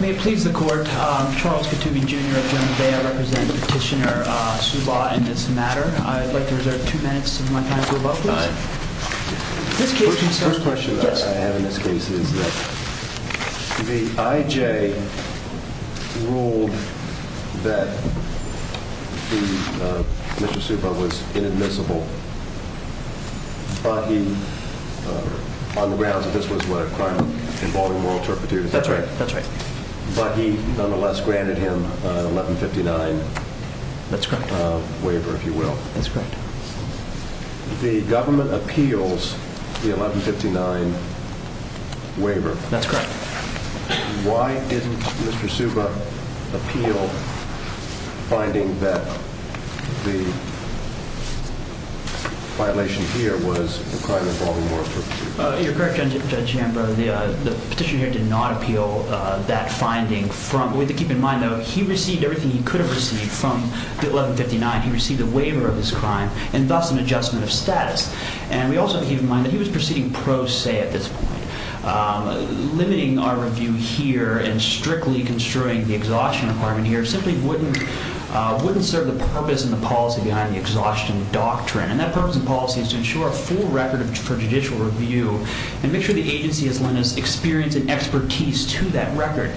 May it please the court, Charles Katooby, Jr. of General Vea represent Petitioner Subah in this matter. I'd like to reserve two minutes of my time. First question I have in this case is that the I.J. ruled that Mr. Subah was inadmissible on the grounds that this was a crime involving moral turpitude. That's right, that's right. But he nonetheless granted him an 1159 waiver, if you will. That's correct. The government appeals the 1159 waiver. That's correct. Why didn't Mr. Subah appeal finding that the violation here was a crime involving moral turpitude? You're correct, Judge Amber, the Petitioner here did not appeal that finding from, we have to keep in mind though, he received everything he could have received from the 1159. He received a waiver of this crime and thus an adjustment of status. And we also have to keep in mind that he was proceeding pro se at this point. Limiting our review here and strictly construing the exhaustion requirement here simply wouldn't serve the purpose and the policy behind the exhaustion doctrine. And that purpose and policy is to ensure a full record for judicial review and make sure the agency has lent us experience and expertise to that record.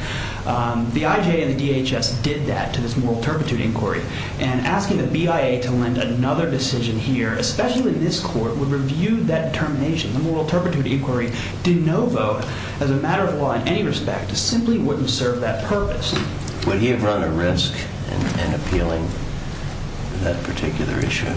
The IJ and the DHS did that to this moral turpitude inquiry. And asking the BIA to lend another decision here, especially in this court, would review that determination. The moral turpitude inquiry did no vote as a matter of law in any respect. It simply wouldn't serve that purpose. Would he have run a risk in appealing that particular issue?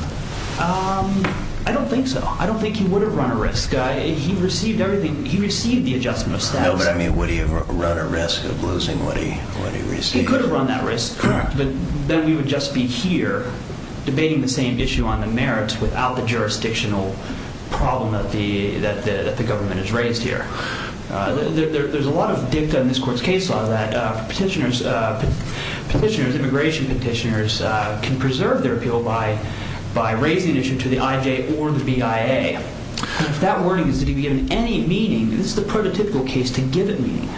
I don't think so. I don't think he would have run a risk. He received everything, he received the adjustment of status. No, but I mean, would he have run a risk of losing what he received? He could have run that risk, but then we would just be here debating the same issue on the merits without the jurisdictional problem that the government has raised here. There's a lot of dicta in this court's case law that petitioners, immigration petitioners can preserve their appeal by raising the issue to the IJ or the BIA. If that warning is to be given any meaning, this is the prototypical case to give it meaning.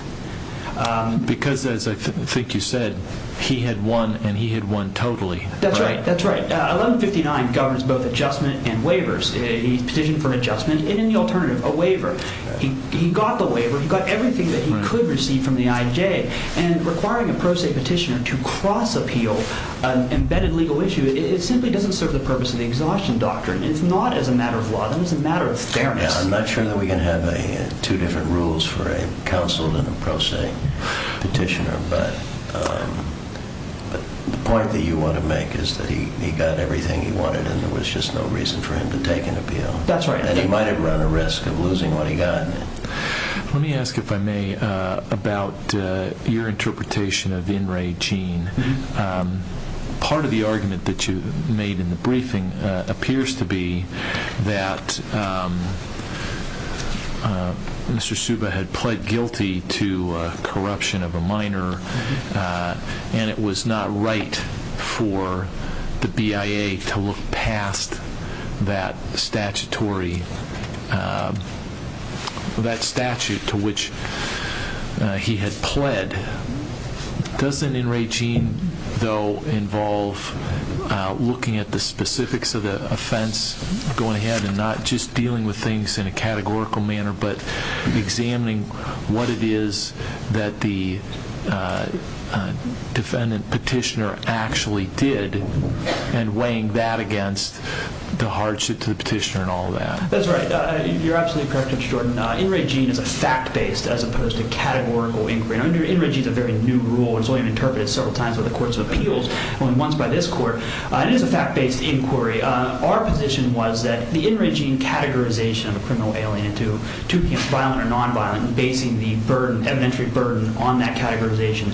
Because as I think you said, he had won and he had won totally. That's right. That's right. 1159 governs both adjustment and waivers. He petitioned for an adjustment and in the alternative, a waiver. He got the waiver. He got everything that he could receive from the IJ. And requiring a pro se petitioner to cross appeal an embedded legal issue, it simply doesn't serve the purpose of the exhaustion doctrine. It's not as a matter of law. That was a matter of fairness. I'm not sure that we can have two different rules for a counsel and a pro se petitioner, but the point that you want to make is that he got everything he wanted and there was just no reason for him to take an appeal. That's right. And he might have run a risk of losing what he got. Let me ask, if I may, about your interpretation of In re Gene. Part of the argument that you made in the briefing appears to be that Mr. Subba had pled guilty to corruption of a minor and it was not right for the BIA to look past that statutory, that statute to which he had pled. Doesn't In re Gene, though, involve looking at the specifics of the offense going ahead and not just dealing with things in a categorical manner, but examining what it is that the defendant petitioner actually did and weighing that against the hardship to the petitioner and all that? That's right. You're absolutely correct, Mr. Jordan. In re Gene is a fact-based as opposed to categorical inquiry. In re Gene is a very new rule. It's only been interpreted several times by the courts of appeals, only once by this court. It is a fact-based inquiry. Our position was that the In re Gene categorization of a criminal alien into violent or nonviolent and basing the evidentiary burden on that categorization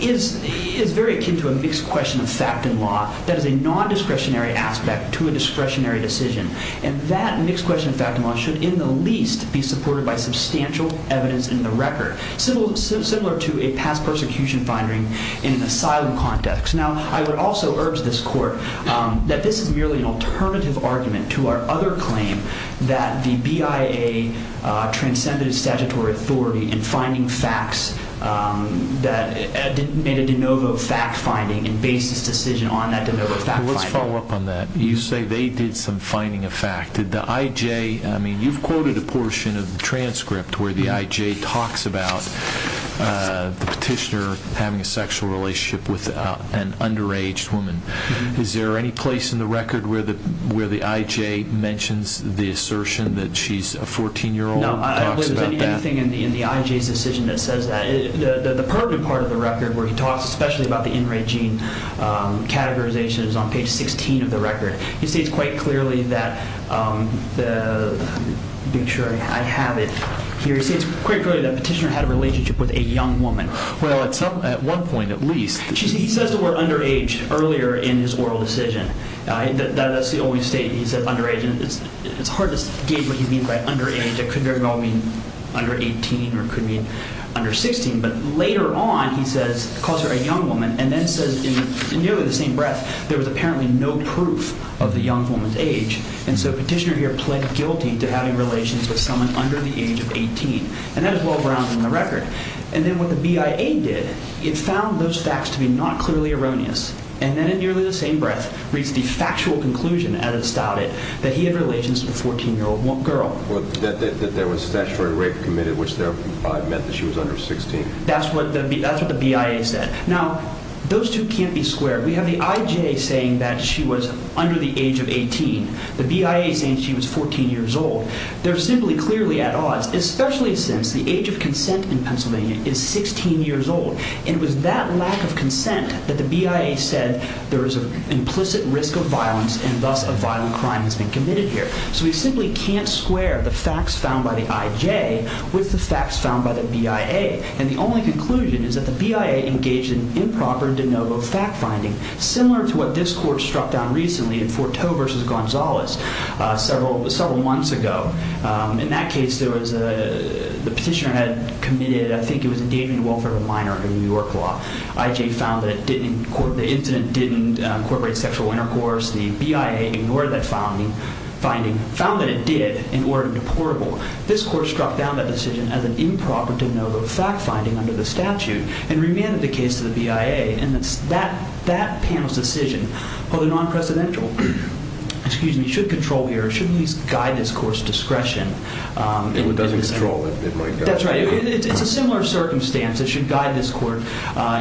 is very akin to a mixed question of fact and law. That is a non-discretionary aspect to a discretionary decision. And that mixed question of fact and law should in the least be supported by substantial evidence in the record. Similar to a past persecution finding in an asylum context. Now, I would also urge this court that this is merely an alternative argument to our other claim that the BIA transcended statutory authority in finding facts that made a de novo fact finding and based its decision on that de novo fact finding. Let's follow up on that. You say they did some finding of fact. Did the IJ, I mean, you've quoted a portion of the transcript where the IJ talks about the petitioner having a sexual relationship with an underage woman. Is there any place in the record where the IJ mentions the assertion that she's a 14-year-old and talks about that? No, I don't believe there's anything in the IJ's decision that says that. The pertinent part of the record where he talks especially about the in-range gene categorization is on page 16 of the record. He states quite clearly that, being sure I have it here, he states quite clearly that the petitioner had a relationship with a young woman. Well, at one point at least. He says the word underage earlier in his oral decision. That's the only statement he said underage. It's hard to gauge what he means by underage. It could very well mean under a young woman and then says in nearly the same breath, there was apparently no proof of the young woman's age. And so petitioner here pled guilty to having relations with someone under the age of 18. And that is well-grounded in the record. And then what the BIA did, it found those facts to be not clearly erroneous. And then in nearly the same breath, reached the factual conclusion as it started that he had relations with a 14-year-old girl. That there was statutory rape committed, which there probably meant that she was under 16. That's what the BIA said. Now, those two can't be squared. We have the IJ saying that she was under the age of 18. The BIA saying she was 14 years old. They're simply clearly at odds, especially since the age of consent in Pennsylvania is 16 years old. And it was that lack of consent that the BIA said there was an implicit risk of violence and thus a violent crime has been committed here. So we simply can't square the facts found by the IJ with the facts found by the BIA. And the only conclusion is that the BIA engaged in improper de novo fact-finding, similar to what this court struck down recently in Fort Towe versus Gonzales several months ago. In that case, the petitioner had committed, I think it was endangering the welfare of a minor in New York law. IJ found that the incident didn't incorporate sexual intercourse. The BIA ignored that finding, found that it did in order to deportable. This court struck down that decision as an improper de novo fact-finding under the statute and remanded the case to the BIA. And it's that panel's decision, although non-presidential, excuse me, should control here, should at least guide this court's discretion. It doesn't control it. It might not. That's right. It's a similar circumstance. It should guide this court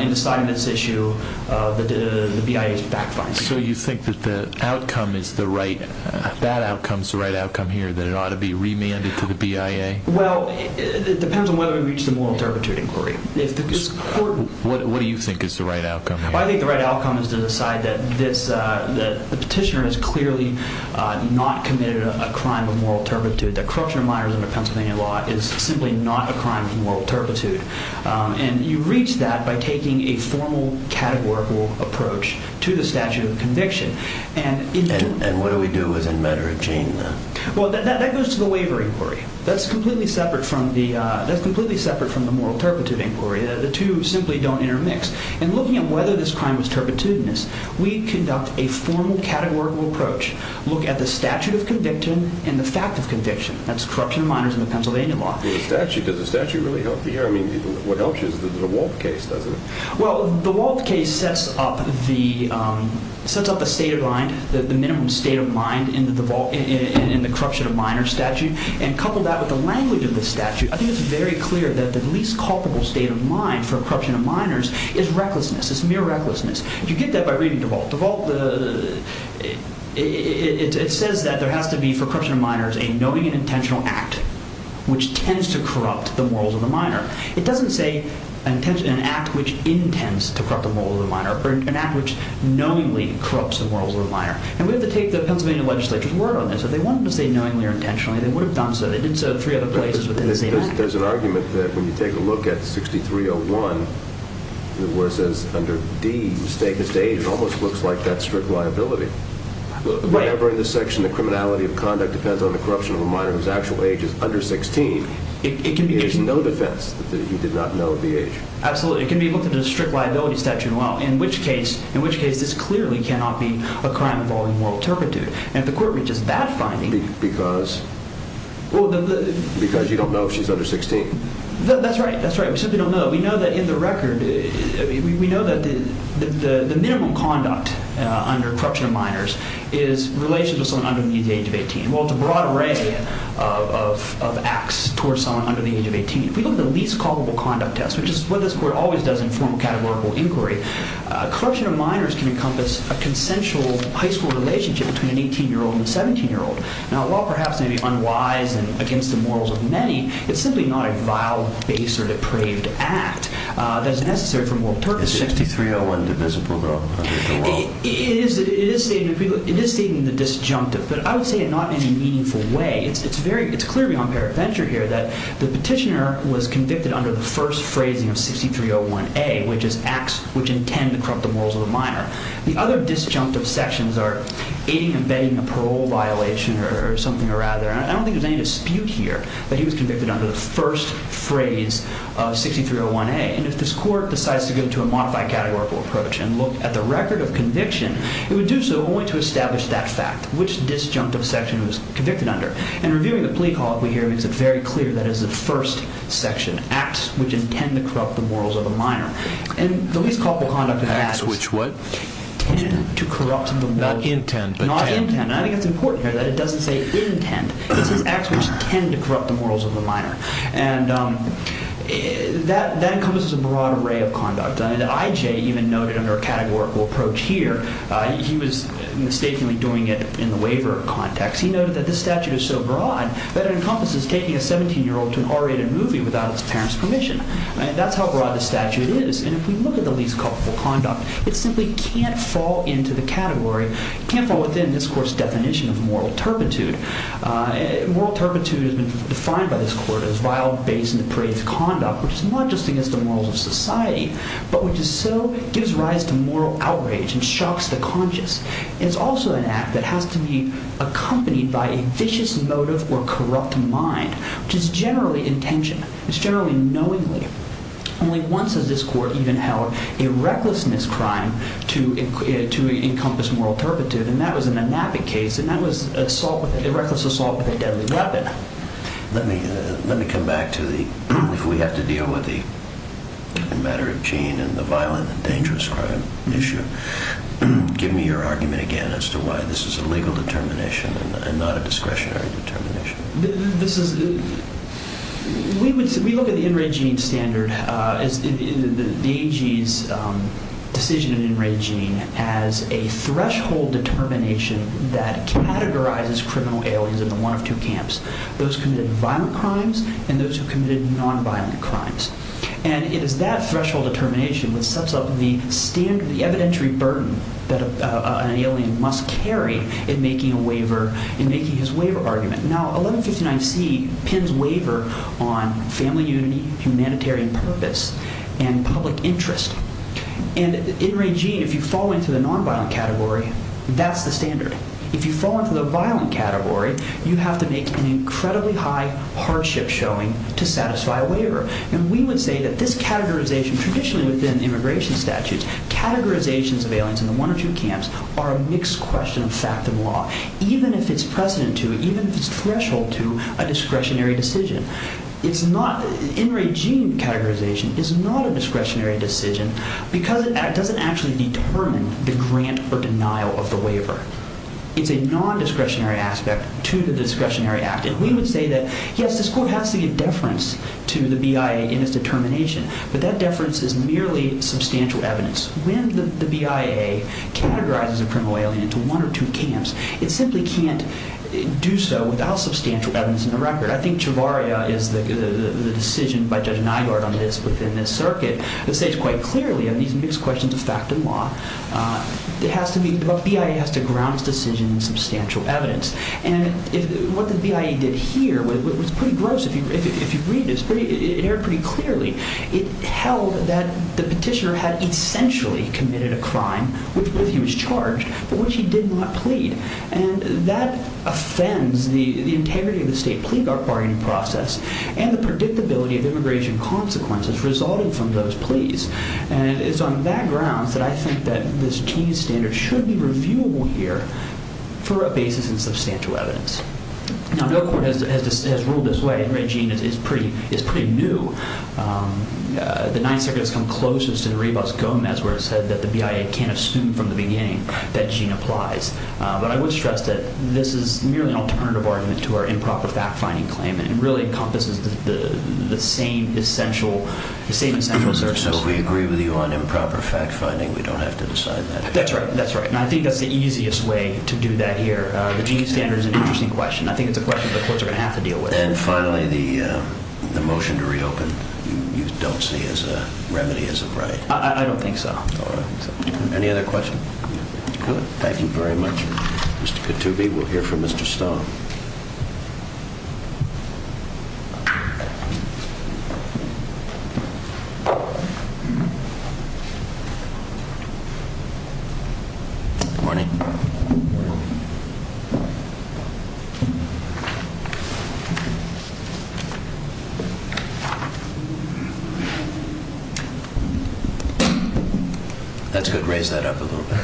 in deciding this issue, the BIA's fact-finding. So you think that the outcome is the right, that outcome's the right outcome here, that it ought to be remanded to the BIA? Well, it depends on whether we reach the moral turpitude inquiry. What do you think is the right outcome here? I think the right outcome is to decide that this, that the petitioner has clearly not committed a crime of moral turpitude, that corruption of minors under Pennsylvania law is simply not a crime of moral turpitude. And you reach that by taking a formal categorical approach to the statute of conviction. And what do we do as a matter of chain then? Well, that goes to the waiver inquiry. That's completely separate from the moral turpitude inquiry. The two simply don't intermix. And looking at whether this crime was turpitudinous, we conduct a formal categorical approach, look at the statute of conviction and the fact of conviction. That's corruption of minors under Pennsylvania law. Does the statute really help you here? I mean, what helps you is the Walt case, doesn't it? Well, the Walt case sets up a state of mind, the minimum state of mind in the corruption of minors statute. And coupled that with the language of the statute, I think it's very clear that the least culpable state of mind for corruption of minors is recklessness. It's mere recklessness. You get that by reading the Walt. It says that there has to be for corruption of minors a knowing and intentional act which tends to corrupt the morals of the minor. It doesn't say an act which intends to corrupt the morals of the minor, but an act which knowingly corrupts the morals of the minor. And we have to take the Pennsylvania legislature's word on this. If they wanted to say knowingly or intentionally, they would have done so. They did so in three other places, but didn't say that. There's an argument that when you take a look at 6301, where it says under D, the state of state, it almost looks like that's strict liability. Right. Whenever in this section the criminality of conduct depends on the corruption of a minor whose actual age is under 16, it is no defense that he did not know the age. Absolutely. It can be looked at as a strict liability statute in which case this clearly cannot be a crime involving moral turpitude. And if the court reaches that finding... Because you don't know if she's under 16. That's right. We simply don't know. We know that in the record, we know that the minimum conduct under corruption of minors is in relation to someone under the age of 18. Well, it's a broad array of acts towards someone under the age of 18. If we look at the least culpable conduct test, which is what this court always does in formal categorical inquiry, corruption of minors can encompass a consensual high school relationship between an 18-year-old and a 17-year-old. Now, while perhaps maybe unwise and against the morals of many, it's simply not a vile, base, or depraved act that is necessary for moral turpitude. Is 6301 divisible under the law? It is stating the disjunctive, but I would say it not in a meaningful way. It's clearly on paradenture here that the petitioner was convicted under the first phrasing of 6301A, which is acts which intend to corrupt the morals of the minor. The other disjunctive sections are aiding and abetting a parole violation or something or other. I don't think there's any dispute here that he was convicted under the first phrase of 6301A. And if this is a conviction, it would do so only to establish that fact, which disjunctive section he was convicted under. And reviewing the plea call, we hear it's very clear that it is the first section, acts which intend to corrupt the morals of a minor. And the least culpable conduct of acts, which what? Intent. To corrupt the morals. Not intent, but intent. Not intent. I think it's important here that it doesn't say intent. It says acts which tend to corrupt the morals of the minor. And that encompasses a broad array of conduct. I.J. even noted under a categorical approach here, he was mistakenly doing it in the waiver context. He noted that this statute is so broad that it encompasses taking a 17-year-old to an R-rated movie without its parent's permission. That's how broad the statute is. And if we look at the least culpable conduct, it simply can't fall into the category, can't fall within this court's definition of moral turpitude. Moral turpitude has been defined by this court as vile, base, and depraved conduct, which is not just against the morals of society, but which is so, gives rise to moral outrage and shocks the conscious. It's also an act that has to be accompanied by a vicious motive or corrupt mind, which is generally intention. It's generally knowingly. Only once has this court even held a recklessness crime to encompass moral turpitude, and that was in the Knappett case, and that was assault with, a reckless assault with a deadly weapon. Let me, let me come back to the, if we have to deal with the matter of gene and the violent and dangerous crime issue. Give me your argument again as to why this is a legal determination and not a discretionary determination. This is, we would, we look at the in-rate gene standard as the AG's decision in in-rate gene as a threshold determination that categorizes criminal aliens in the one of two camps. Those committed violent crimes and those who committed non-violent crimes. And it is that threshold determination which sets up the standard, the evidentiary burden that an alien must carry in making a waiver, in making his waiver argument. Now, 1159C pins waiver on family unity, humanitarian purpose, and public interest. And in-rate gene, if you fall into the non-violent category, that's the standard. If you fall into the violent category, you have to make an incredibly high hardship showing to satisfy a waiver. And we would say that this categorization, traditionally within immigration statutes, categorizations of aliens in the one or two camps are a mixed question of fact and law. Even if it's precedent to, even if it's threshold to, a discretionary decision. It's not, in-rate gene categorization is not a discretionary decision because it doesn't actually determine the grant or denial of the waiver. It's a non-discretionary aspect to the discretionary act. And we would say that, yes, this court has to give deference to the BIA in its determination. But that deference is merely substantial evidence. When the BIA categorizes a criminal alien into one or two camps, it simply can't do so without substantial evidence in the record. I think Chavarria is the decision by Judge Nygaard on this, within this circuit, that the BIA has to ground its decision in substantial evidence. And what the BIA did here, which was pretty gross if you read this, it aired pretty clearly, it held that the petitioner had essentially committed a crime with which he was charged, but which he did not plead. And that offends the integrity of the state plea bargaining process and the predictability of immigration consequences resulting from those pleas. And it's on that grounds that I think that this Cheney standard should be reviewable here for a basis in substantial evidence. Now, no court has ruled this way. Every gene is pretty new. The Ninth Circuit has come closest to the rebus Gomez where it said that the BIA can't assume from the beginning that gene applies. But I would stress that this is merely an alternative argument to our improper fact-finding claim. And it really encompasses the same essential assertions. So if we agree with you on improper fact-finding, we don't have to decide that? That's right. That's right. And I think that's the easiest way to do that here. The gene standard is an interesting question. I think it's a question that the courts are going to have to deal with. And finally, the motion to reopen, you don't see as a remedy as a right? I don't think so. All right. Any other questions? Good. Thank you very much, Mr. Katoubi. We'll hear from Mr. Stone. Good morning. That's good. Raise that up a little bit.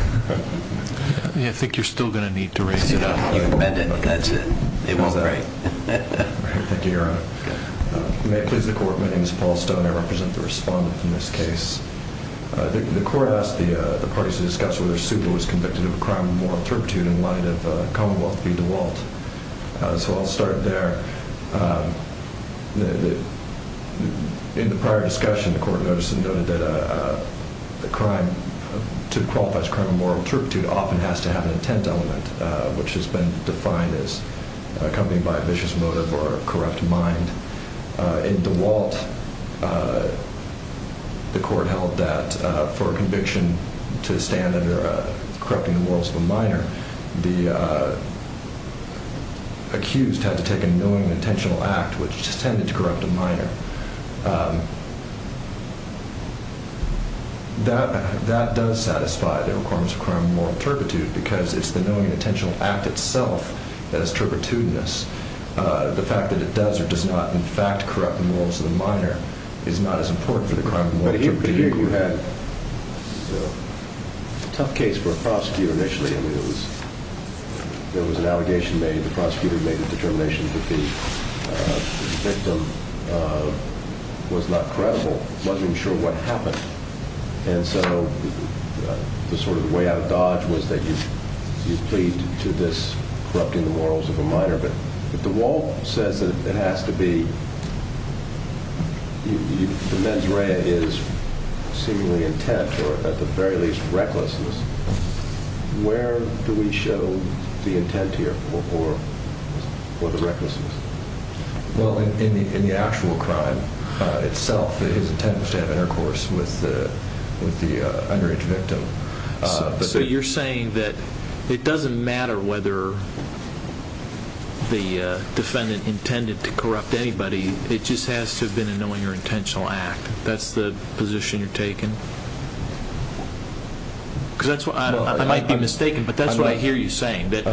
I think you're still going to need to raise it up. You can bend it. That's it. It won't break. Thank you, Your Honor. May it please the Court, my name is Paul Stone. I represent the respondent in this case. The Court asked the parties to discuss whether Supa was convicted of a crime of moral turpitude in light of Commonwealth v. DeWalt. So I'll start there. In the prior discussion, the Court noted that a crime that qualifies as a crime of moral turpitude often has to have an intent element, which has been defined as accompanied by a The Court held that for a conviction to stand under corrupting the morals of a minor, the accused had to take a knowing and intentional act, which tended to corrupt a minor. That does satisfy the requirements of a crime of moral turpitude because it's the knowing and intentional act itself that is turpitudinous. The fact that it does or does not, in fact, corrupt the morals of the minor is not as important for the crime of moral turpitude. But here you had a tough case for a prosecutor initially. I mean, there was an allegation made, the prosecutor made the determination that the victim was not credible, wasn't even sure what happened. And so the sort of way out of dodge was that you pleaded to this The mens rea is seemingly intent, or at the very least recklessness. Where do we show the intent here for the recklessness? Well, in the actual crime itself, his intent was to have intercourse with the underage victim. So you're saying that it doesn't matter whether the defendant intended to corrupt anybody, it just has to have been a knowing or intentional act. That's the position you're taking? Because I might be mistaken, but that's what I hear you saying, that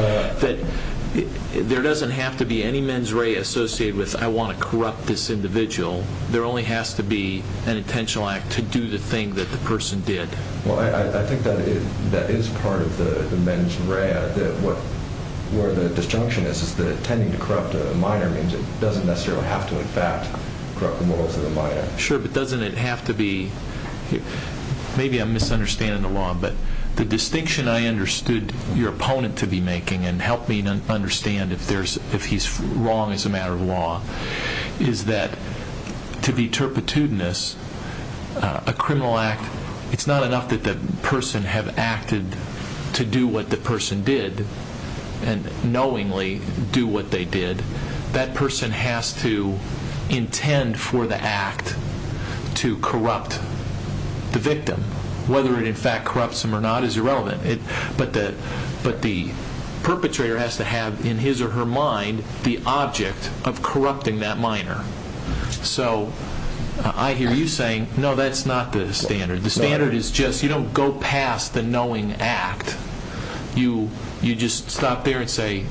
there doesn't have to be any mens rea associated with, I want to corrupt this individual. There only has to be an intentional act to do the thing that the person did. Well, I think that is part of the mens rea. Where the disjunction is, is that intending to corrupt a minor means it doesn't necessarily have to in fact corrupt the morals of the minor. Sure, but doesn't it have to be, maybe I'm misunderstanding the law, but the distinction I understood your opponent to be making, and helped me understand if he's wrong as a matter of law, is that to be turpitudinous, a criminal act, it's not enough that the person have acted to do what the person did, and knowingly do what they did, that person has to intend for the act to corrupt the victim. Whether it in fact corrupts them or not is irrelevant, but the perpetrator has to have in his or her mind the object of corrupting that minor. So, I hear you saying, no that's not the standard. The standard is just, you don't go past the knowing act. You just stop there and say,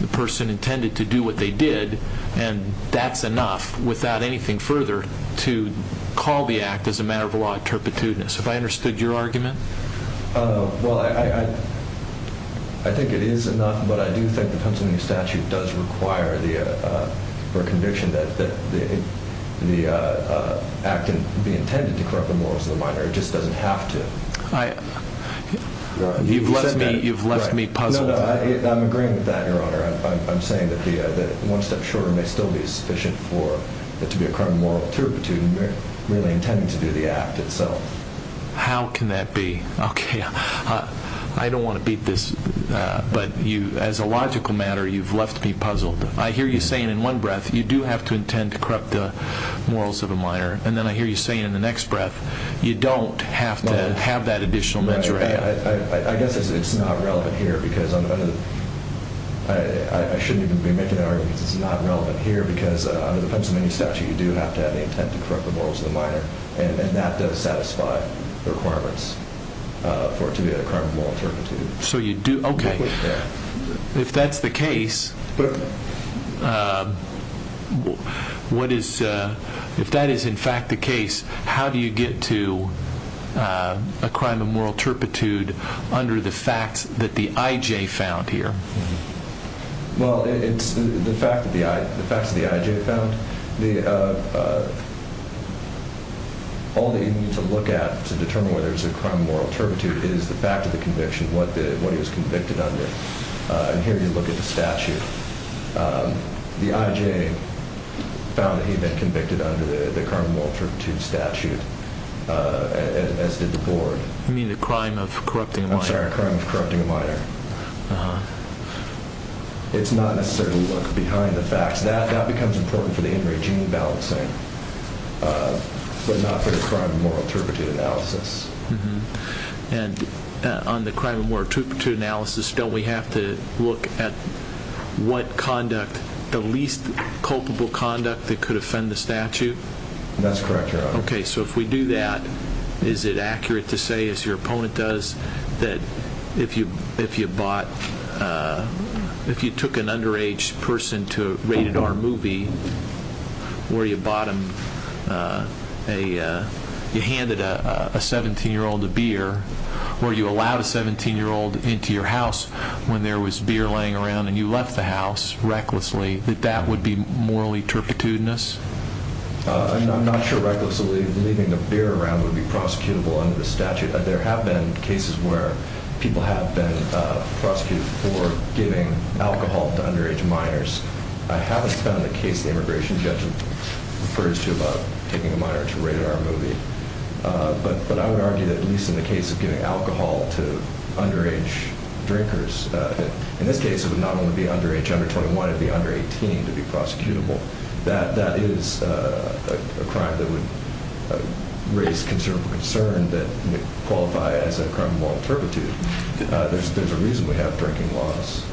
the person intended to do what they did, and that's enough, without anything further, to call the act as a matter of law, turpitudinous. Have I understood your argument? Well, I think it is enough, but I do think the Pennsylvania statute does require the conviction that the act can be intended to corrupt the morals of the minor. It just doesn't have to. You've left me puzzled. I'm agreeing with that, your honor. I'm saying that the one step shorter may still be sufficient for it to be a crime of moral turpitude, merely intending to do the act itself. How can that be? I don't want to beat this, but as a logical matter, you've left me puzzled. I hear you saying in one breath, you do have to intend to corrupt the morals of a minor, and then I hear you saying in the next breath, you don't have to have that additional measure. I guess it's not relevant here, because I shouldn't even be making that argument. It's not relevant here, because under the Pennsylvania statute, you do have to have the requirements for it to be a crime of moral turpitude. Okay. If that's the case, how do you get to a crime of moral turpitude under the facts that the I.J. found here? Well, it's the facts that the I.J. found. All that you need to look at to determine whether it's a crime of moral turpitude is the fact of the conviction, what he was convicted under. And here you look at the statute. The I.J. found that he'd been convicted under the crime of moral turpitude statute, as did the board. You mean a crime of corrupting a minor? I'm sorry, a crime of corrupting a minor. Uh-huh. It's not necessarily to look behind the facts. That becomes important for the in-regime balancing, but not for the crime of moral turpitude analysis. And on the crime of moral turpitude analysis, don't we have to look at what conduct, the least culpable conduct that could offend the statute? That's correct, Your Honor. Okay, so if we do that, is it accurate to say, as your opponent does, that if you took an underage person to a rated R movie where you handed a 17-year-old a beer or you allowed a 17-year-old into your house when there was beer laying around and you left the house recklessly, that that would be morally turpitudinous? I'm not sure recklessly leaving the beer around would be prosecutable under the statute. There have been cases where people have been prosecuted for giving alcohol to underage minors. I haven't found a case the immigration judge refers to about taking a minor to a rated R movie. But I would argue that at least in the case of giving alcohol to underage drinkers, in this case it would not only be underage under 21, it would be under 18 to be prosecutable. That is a crime that would raise considerable concern that would qualify as a crime of moral turpitude. There's a reason we have drinking laws.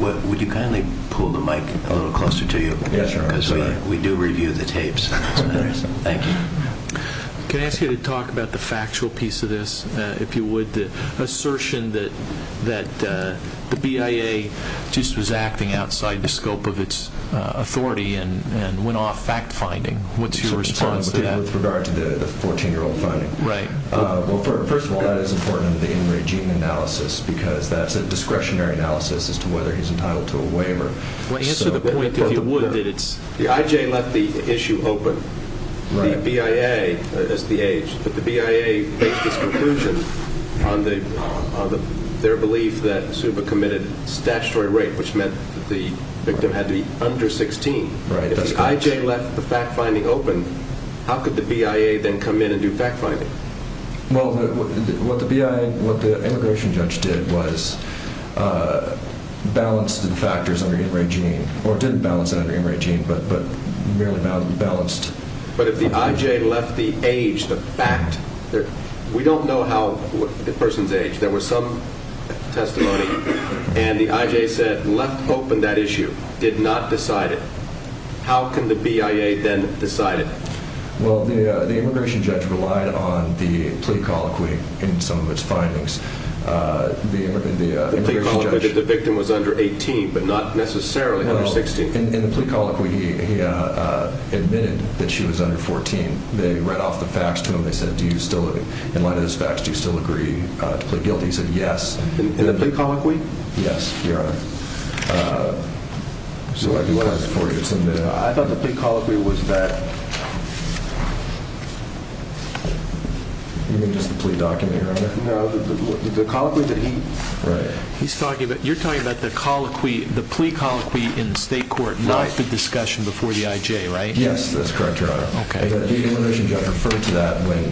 Would you kindly pull the mic a little closer to you? Yes, Your Honor. Because we do review the tapes. Thank you. Can I ask you to talk about the factual piece of this, if you would, the assertion that the BIA just was acting outside the scope of its authority and went off fact-finding. What's your response to that? With regard to the 14-year-old finding? Right. Well, first of all, that is important in the in-regime analysis because that's a discretionary analysis as to whether he's entitled to a waiver. Answer the point, if you would. The IJ left the issue open. The BIA is the age. But the BIA made this conclusion on their belief that Zuba committed statutory rape, which meant that the victim had to be under 16. If the IJ left the fact-finding open, how could the BIA then come in and do fact-finding? Well, what the immigration judge did was balance the factors under in-regime or didn't balance them under in-regime but merely balanced... But if the IJ left the age, the fact... We don't know the person's age. There was some testimony and the IJ said, left open that issue, did not decide it. How can the BIA then decide it? Well, the immigration judge relied on the plea colloquy in some of its findings. The immigration judge... The plea colloquy that the victim was under 18 but not necessarily under 16. In the plea colloquy, he admitted that she was under 14. They read off the facts to him. They said, in light of those facts, do you still agree to plead guilty? He said, yes. In the plea colloquy? Yes, Your Honor. Uh... I thought the plea colloquy was that... You mean just the plea document, Your Honor? No, the colloquy that he... Right. You're talking about the plea colloquy in the state court, not the discussion before the IJ, right? Yes, that's correct, Your Honor. The immigration judge referred to that when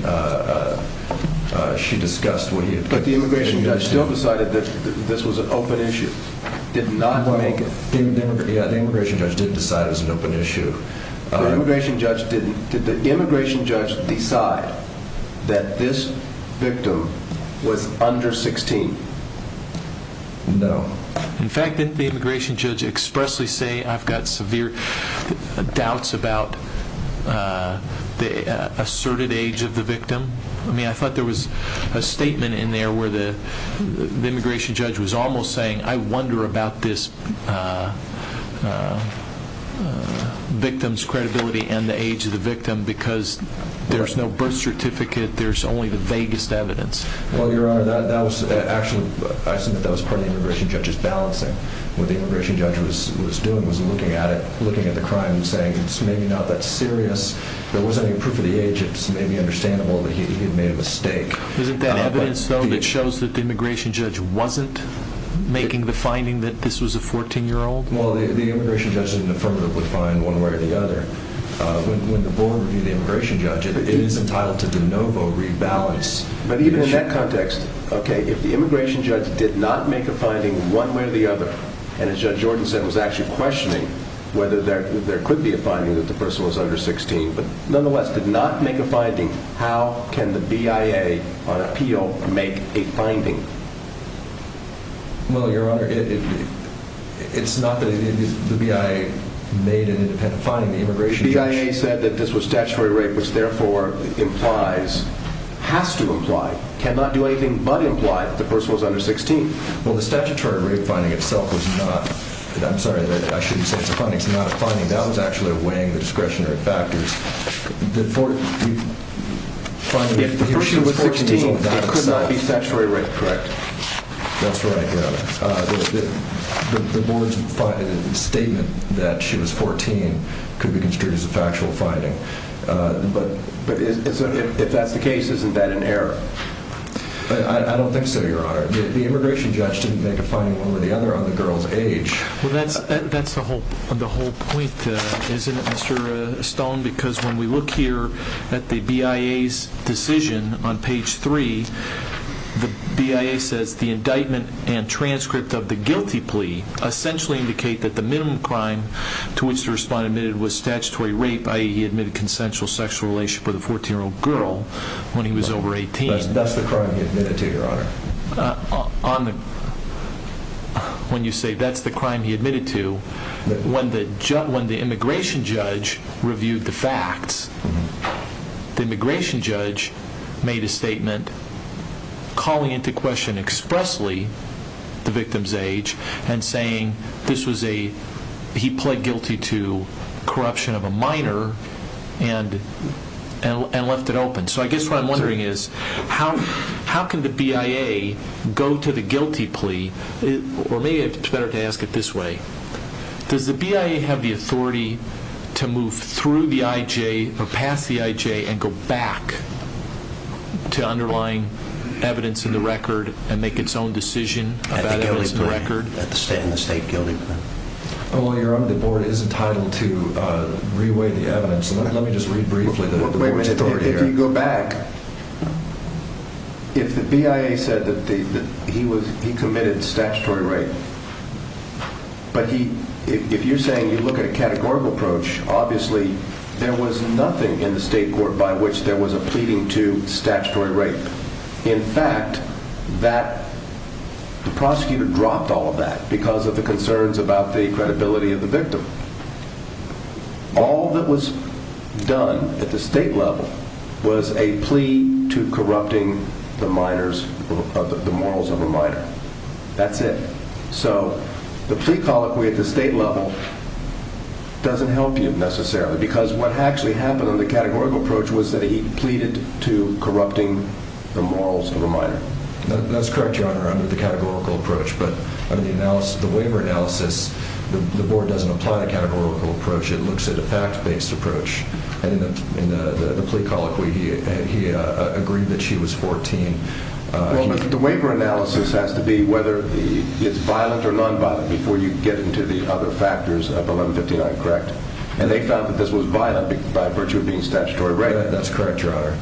she discussed what he had... But the immigration judge still decided that this was an open issue. Did not make it... Yeah, the immigration judge did decide it was an open issue. The immigration judge didn't... Did the immigration judge decide that this victim was under 16? No. In fact, didn't the immigration judge expressly say, I've got severe doubts about the asserted age of the victim? I mean, I thought there was a statement in there where the immigration judge was almost saying, I wonder about this victim's credibility and the age of the victim because there's no birth certificate, there's only the vaguest evidence. Well, Your Honor, that was actually... I assume that was part of the immigration judge's balancing. What the immigration judge was doing was looking at it, looking at the crime and saying, it's maybe not that serious, there wasn't any proof of the age, it's maybe understandable that he had made a mistake. Isn't that evidence, though, that shows that the immigration judge wasn't making the finding that this was a 14-year-old? Well, the immigration judge didn't affirmatively find one way or the other. When the board reviewed the immigration judge, it is entitled to de novo rebalance. But even in that context, if the immigration judge did not make a finding one way or the other, and as Judge Jordan said, was actually questioning whether there could be a finding that the person was under 16, but nonetheless did not make a finding, how can the BIA on appeal make a finding? Well, Your Honor, it's not that the BIA made an independent finding, the immigration judge... The BIA said that this was statutory rape, which therefore implies, has to imply, cannot do anything but imply that the person was under 16. Well, the statutory rape finding itself was not... I'm sorry, I shouldn't say it's a finding, it's not a finding, that was actually weighing the discretionary factors. The 14... If the person was 16, it could not be statutory rape, correct? That's right, Your Honor. The board's statement that she was 14 could be construed as a factual finding. But... If that's the case, isn't that an error? I don't think so, Your Honor. The immigration judge didn't make a finding one way or the other on the girl's age. Well, that's the whole point, isn't it, Mr. Stone? Because when we look here at the BIA's decision on page 3, the BIA says, the indictment and transcript of the guilty plea essentially indicate that the minimum crime to which the respondent admitted was statutory rape, i.e., he admitted consensual sexual relationship with a 14-year-old girl when he was over 18. That's the crime he admitted to, Your Honor. On the... When you say, that's the crime he admitted to, when the immigration judge reviewed the facts, the immigration judge made a statement calling into question expressly the victim's age and saying this was a... he pled guilty to corruption of a minor and left it open. So I guess what I'm wondering is how can the BIA go to the guilty plea? Or maybe it's better to ask it this way. Does the BIA have the authority to move through the IJ or past the IJ and go back to underlying evidence in the record and make its own decision about evidence in the record? In the state guilty plea. Well, Your Honor, the board is entitled to re-weigh the evidence. Let me just read briefly the board's story here. If you go back, if the BIA said that he committed statutory rape, but if you're saying you look at a categorical approach, obviously there was nothing in the state court by which there was a pleading to statutory rape. In fact, that the prosecutor dropped all of that because of the concerns about the credibility of the victim. All that was done at the state level was a plea to corrupting the minors, the morals of a minor. That's it. The plea colloquy at the state level doesn't help you necessarily because what actually happened on the categorical approach was that he pleaded to corrupting the morals of a minor. That's correct, Your Honor, under the categorical approach, but under the waiver analysis, the board doesn't apply a categorical approach. It looks at a fact-based approach. In the plea colloquy, he agreed that she was 14. The waiver analysis has to be whether it's violent or nonviolent before you get into the other factors of 1159, correct? They found that this was violent by virtue of being statutory rape. That's correct, Your Honor.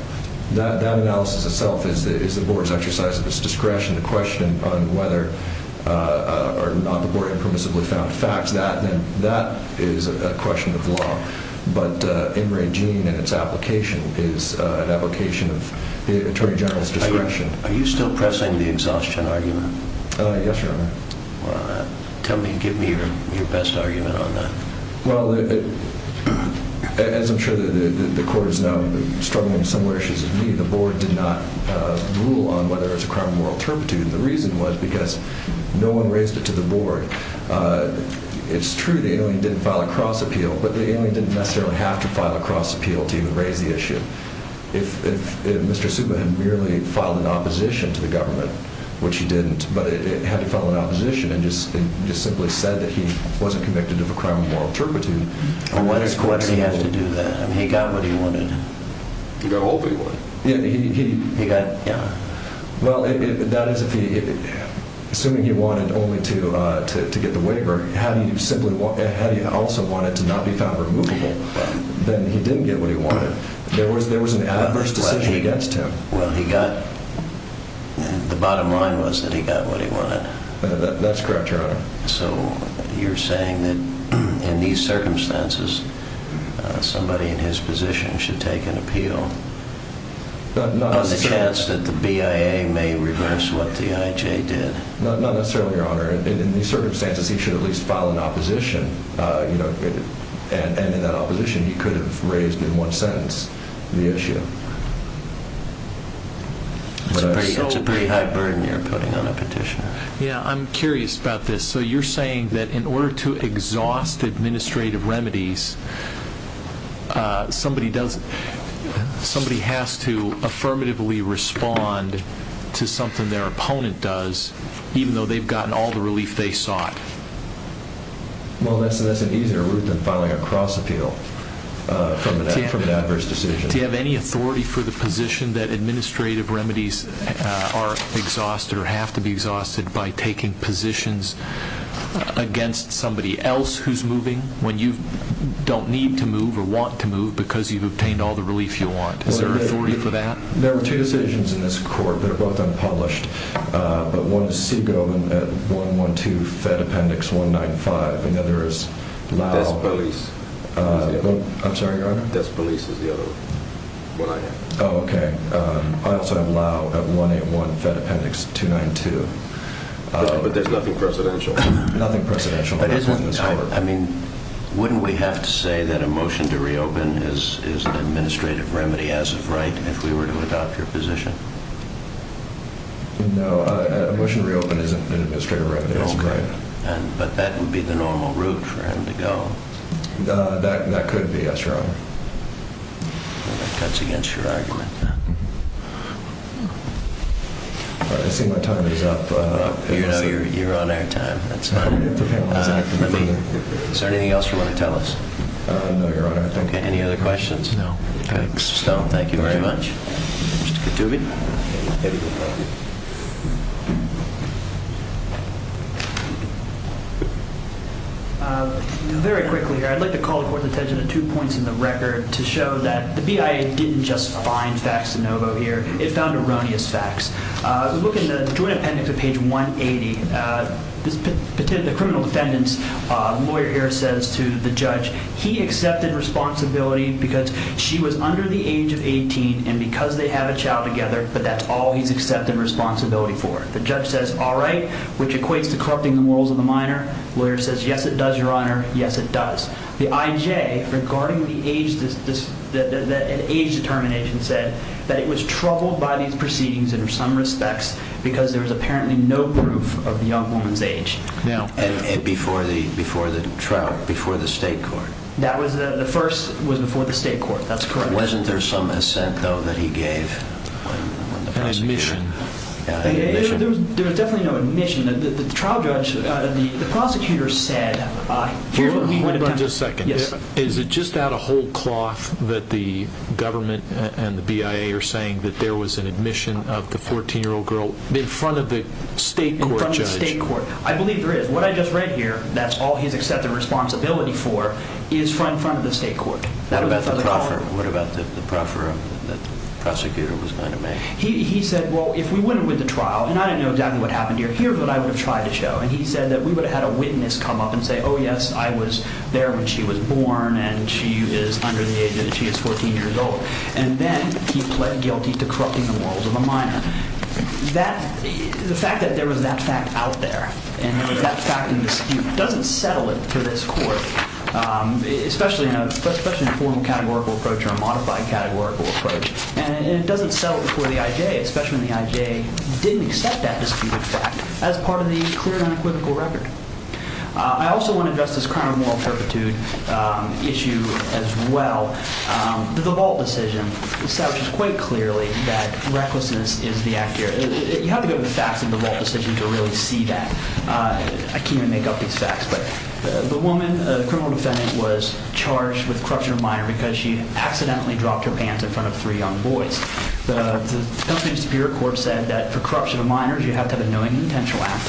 That analysis itself is the board's exercise of its discretion to question on whether or not the board impermissibly found facts. That is a question of law, but in regime and its application is an application of the Attorney General's discretion. Are you still pressing the exhaustion argument? Yes, Your Honor. Give me your best argument on that. As I'm sure the court is now struggling with similar issues as me, the board did not rule on whether it was a crime of moral turpitude. The reason was because no one raised it to the board. It's true the alien didn't file a cross-appeal, but the alien didn't necessarily have to file a cross-appeal to even raise the issue. If Mr. Subba had merely filed an opposition to the government, which he didn't, but had to file an opposition and just simply said that he wasn't convicted of a crime of moral turpitude... Why does court have to do that? He got what he wanted. He got what he wanted. He got... yeah. Well, that is if he... not only to get the waiver, had he also wanted to not be found removable, then he didn't get what he wanted. There was an adverse decision against him. Well, he got... The bottom line was that he got what he wanted. That's correct, Your Honor. So, you're saying that in these circumstances somebody in his position should take an appeal on the chance that the BIA may reverse what the IJ did? Not necessarily, Your Honor. In these circumstances, he should at least file an opposition. And in that opposition, he could have raised in one sentence the issue. That's a very high burden you're putting on a petitioner. Yeah, I'm curious about this. So, you're saying that in order to exhaust administrative remedies, somebody does... somebody has to affirmatively respond to something their opponent does even though they've gotten all the relief they sought? Well, that's an easier route than filing a cross-appeal from an adverse decision. Do you have any authority for the position that administrative remedies are exhausted or have to be exhausted by taking positions against somebody else who's moving when you don't need to move or want to move because you've obtained all the relief you want? Is there authority for that? There are two decisions in this court. They're both unpublished. But one is Segal at 112 Fed Appendix 195. Another is Lau... Despolis. Despolis is the other one. Oh, okay. I also have Lau at 181 Fed Appendix 292. But there's nothing presidential? Nothing presidential. I mean, wouldn't we have to say that a motion to reopen is an administrative remedy as of right if we were to adopt your position? No. A motion to reopen isn't an administrative remedy as of right. But that would be the normal route for him to go. That could be. That's wrong. That cuts against your argument. I see my time is up. You're on air time. Is there anything else you want to tell us? No, your honor. Any other questions? No. Mr. Stone, thank you very much. Very quickly, I'd like to call the court's attention to two points in the record to show that the BIA didn't just find facts de novo here. It found erroneous facts. Look in the Joint Appendix to page 180. The criminal defendant's lawyer here says to the judge he accepted responsibility because she was under the age of 18 and because they have a child together but that's all he's accepted responsibility for. The judge says, all right. Which equates to corrupting the morals of the minor. Lawyer says, yes it does, your honor. Yes it does. The IJ regarding the age determination said that it was troubled by these proceedings in some respects because there was apparently no proof of the young woman's age. Before the trial? Before the state court? The first was before the state court. That's correct. Wasn't there some assent though that he gave? An admission. There was definitely no admission. The trial judge, the prosecutor said Wait a second. Is it just out of whole cloth that the government and the BIA are saying that there was an admission of the 14-year-old girl in front of the state court judge? I believe there is. What I just read here, that's all he's accepted responsibility for, is in front of the state court. What about the proffer? The prosecutor was going to make? He said, well, if we went with the trial and I didn't know exactly what happened here, here's what I would have tried to show. He said that we would have had a witness come up and say, oh yes, I was there when she was born and she is under the age of 14 years old. And then he pled guilty to corrupting the morals of a minor. The fact that there was that fact out there and that fact in dispute doesn't settle it for this court, especially in a formal categorical approach or a modified categorical approach. And it doesn't settle it for the IJ, especially when the IJ didn't accept that disputed fact as part of the clear and unequivocal record. I also want to address this crime of moral perpetuity issue as well. The DeVault decision establishes quite clearly that recklessness is the act here. You have to go to the facts of the DeVault decision to really see that. I can't even make up these facts, but the woman, the criminal defendant, was charged with corruption of a minor because she accidentally dropped her pants in front of three young boys. The Pennsylvania Superior Court said that for corruption of minors you have to have a knowing and intentional act,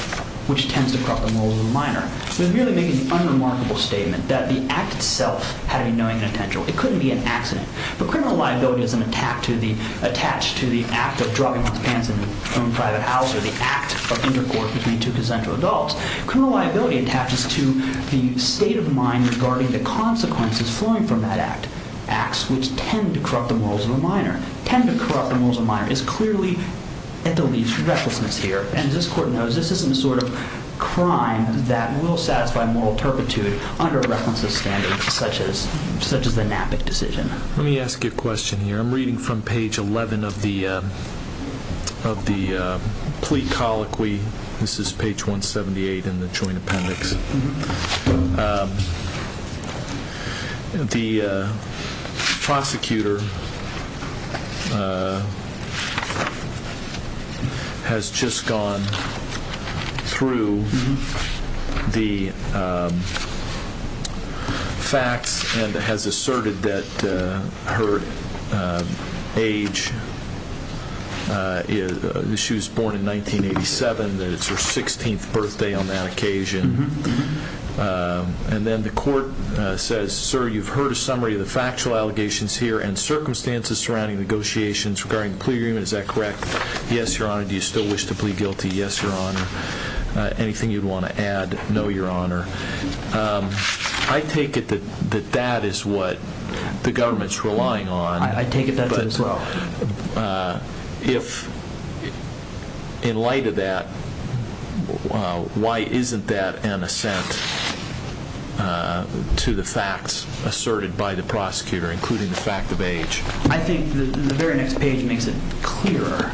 which tends to corrupt the morals of the minor. It was merely making the unremarkable statement that the act itself had to be knowing and intentional. It couldn't be an accident. But criminal liability isn't attached to the act of dropping one's pants in their own private house or the act of intercourse between two consensual adults. Criminal liability attaches to the state of mind regarding the consequences flowing from that act, acts which tend to corrupt the morals of a minor. Tend to corrupt the morals of a minor is clearly at the least recklessness here. And as this Court knows, this isn't the sort of crime that will satisfy moral turpitude under recklessness standards such as the Knapp decision. Let me ask you a question here. I'm reading from page 11 of the plea colloquy. This is page 178 in the Joint Appendix. The prosecutor has just gone through the facts and has asserted that her age is she was born in 1987 and it's her 16th birthday on that occasion. And then the Court says, Sir, you've heard a summary of the factual allegations here and circumstances surrounding negotiations regarding the plea agreement. Is that correct? Yes, Your Honor. Do you still wish to add anything you'd want to add? No, Your Honor. I take it that that is what the government's relying on. I take it that as well. In light of that, why isn't that an assent to the facts asserted by the prosecutor, including the fact of age? I think the very next page makes it clearer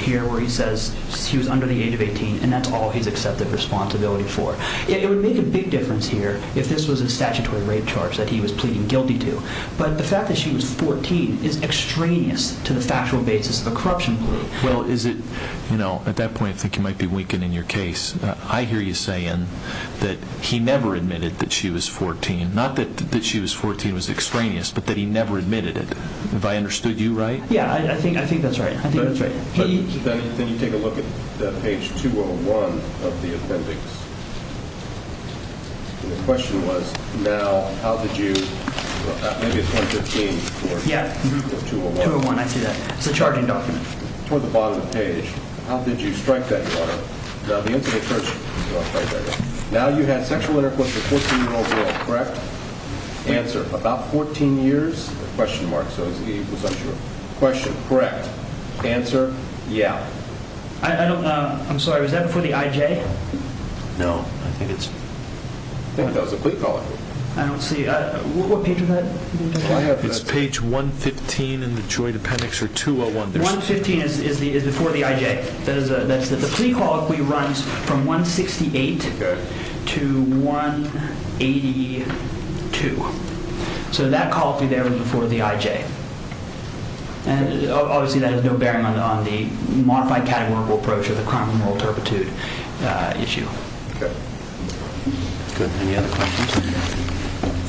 here where he says she was under the age of 18 and that's all he's accepted responsibility for. It would make a big difference here if this was a statutory rape charge that he was pleading guilty to, but the fact that she was 14 is extraneous to the factual basis of a corruption plea. Well, is it, you know, at that point I think you might be winking in your case. I hear you saying that he never admitted that she was 14. Not that she was 14 was extraneous, but that he never admitted it. Have I understood you right? Yeah, I think that's right. Then you take a look at page 201 of the appendix. And the question was now, how did you maybe it's 115 or 201. 201, I see that. It's a charging document. Toward the bottom of the page, how did you strike that, Your Honor? Now the incident occurs Now you had sexual intercourse with a 14-year-old girl, correct? Answer, about 14 years? Question mark, so it was sexual intercourse, I'm sure. Question, correct. Answer, yeah. I don't know, I'm sorry, was that before the IJ? No. I think it's I think that was a plea colloquy. I don't see, what page was that? It's page 115 in the Joy appendix or 201. 115 is before the IJ. The plea colloquy runs from 168 to 182. So that plea colloquy there was before the IJ. And obviously that has no bearing on the modified categorical approach of the crime of moral turpitude issue. Good. Any other questions?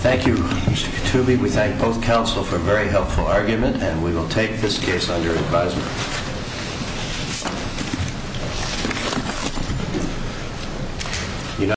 Thank you, Mr. Kutubi. We thank both counsel for a very helpful argument and we will take this case under advisement.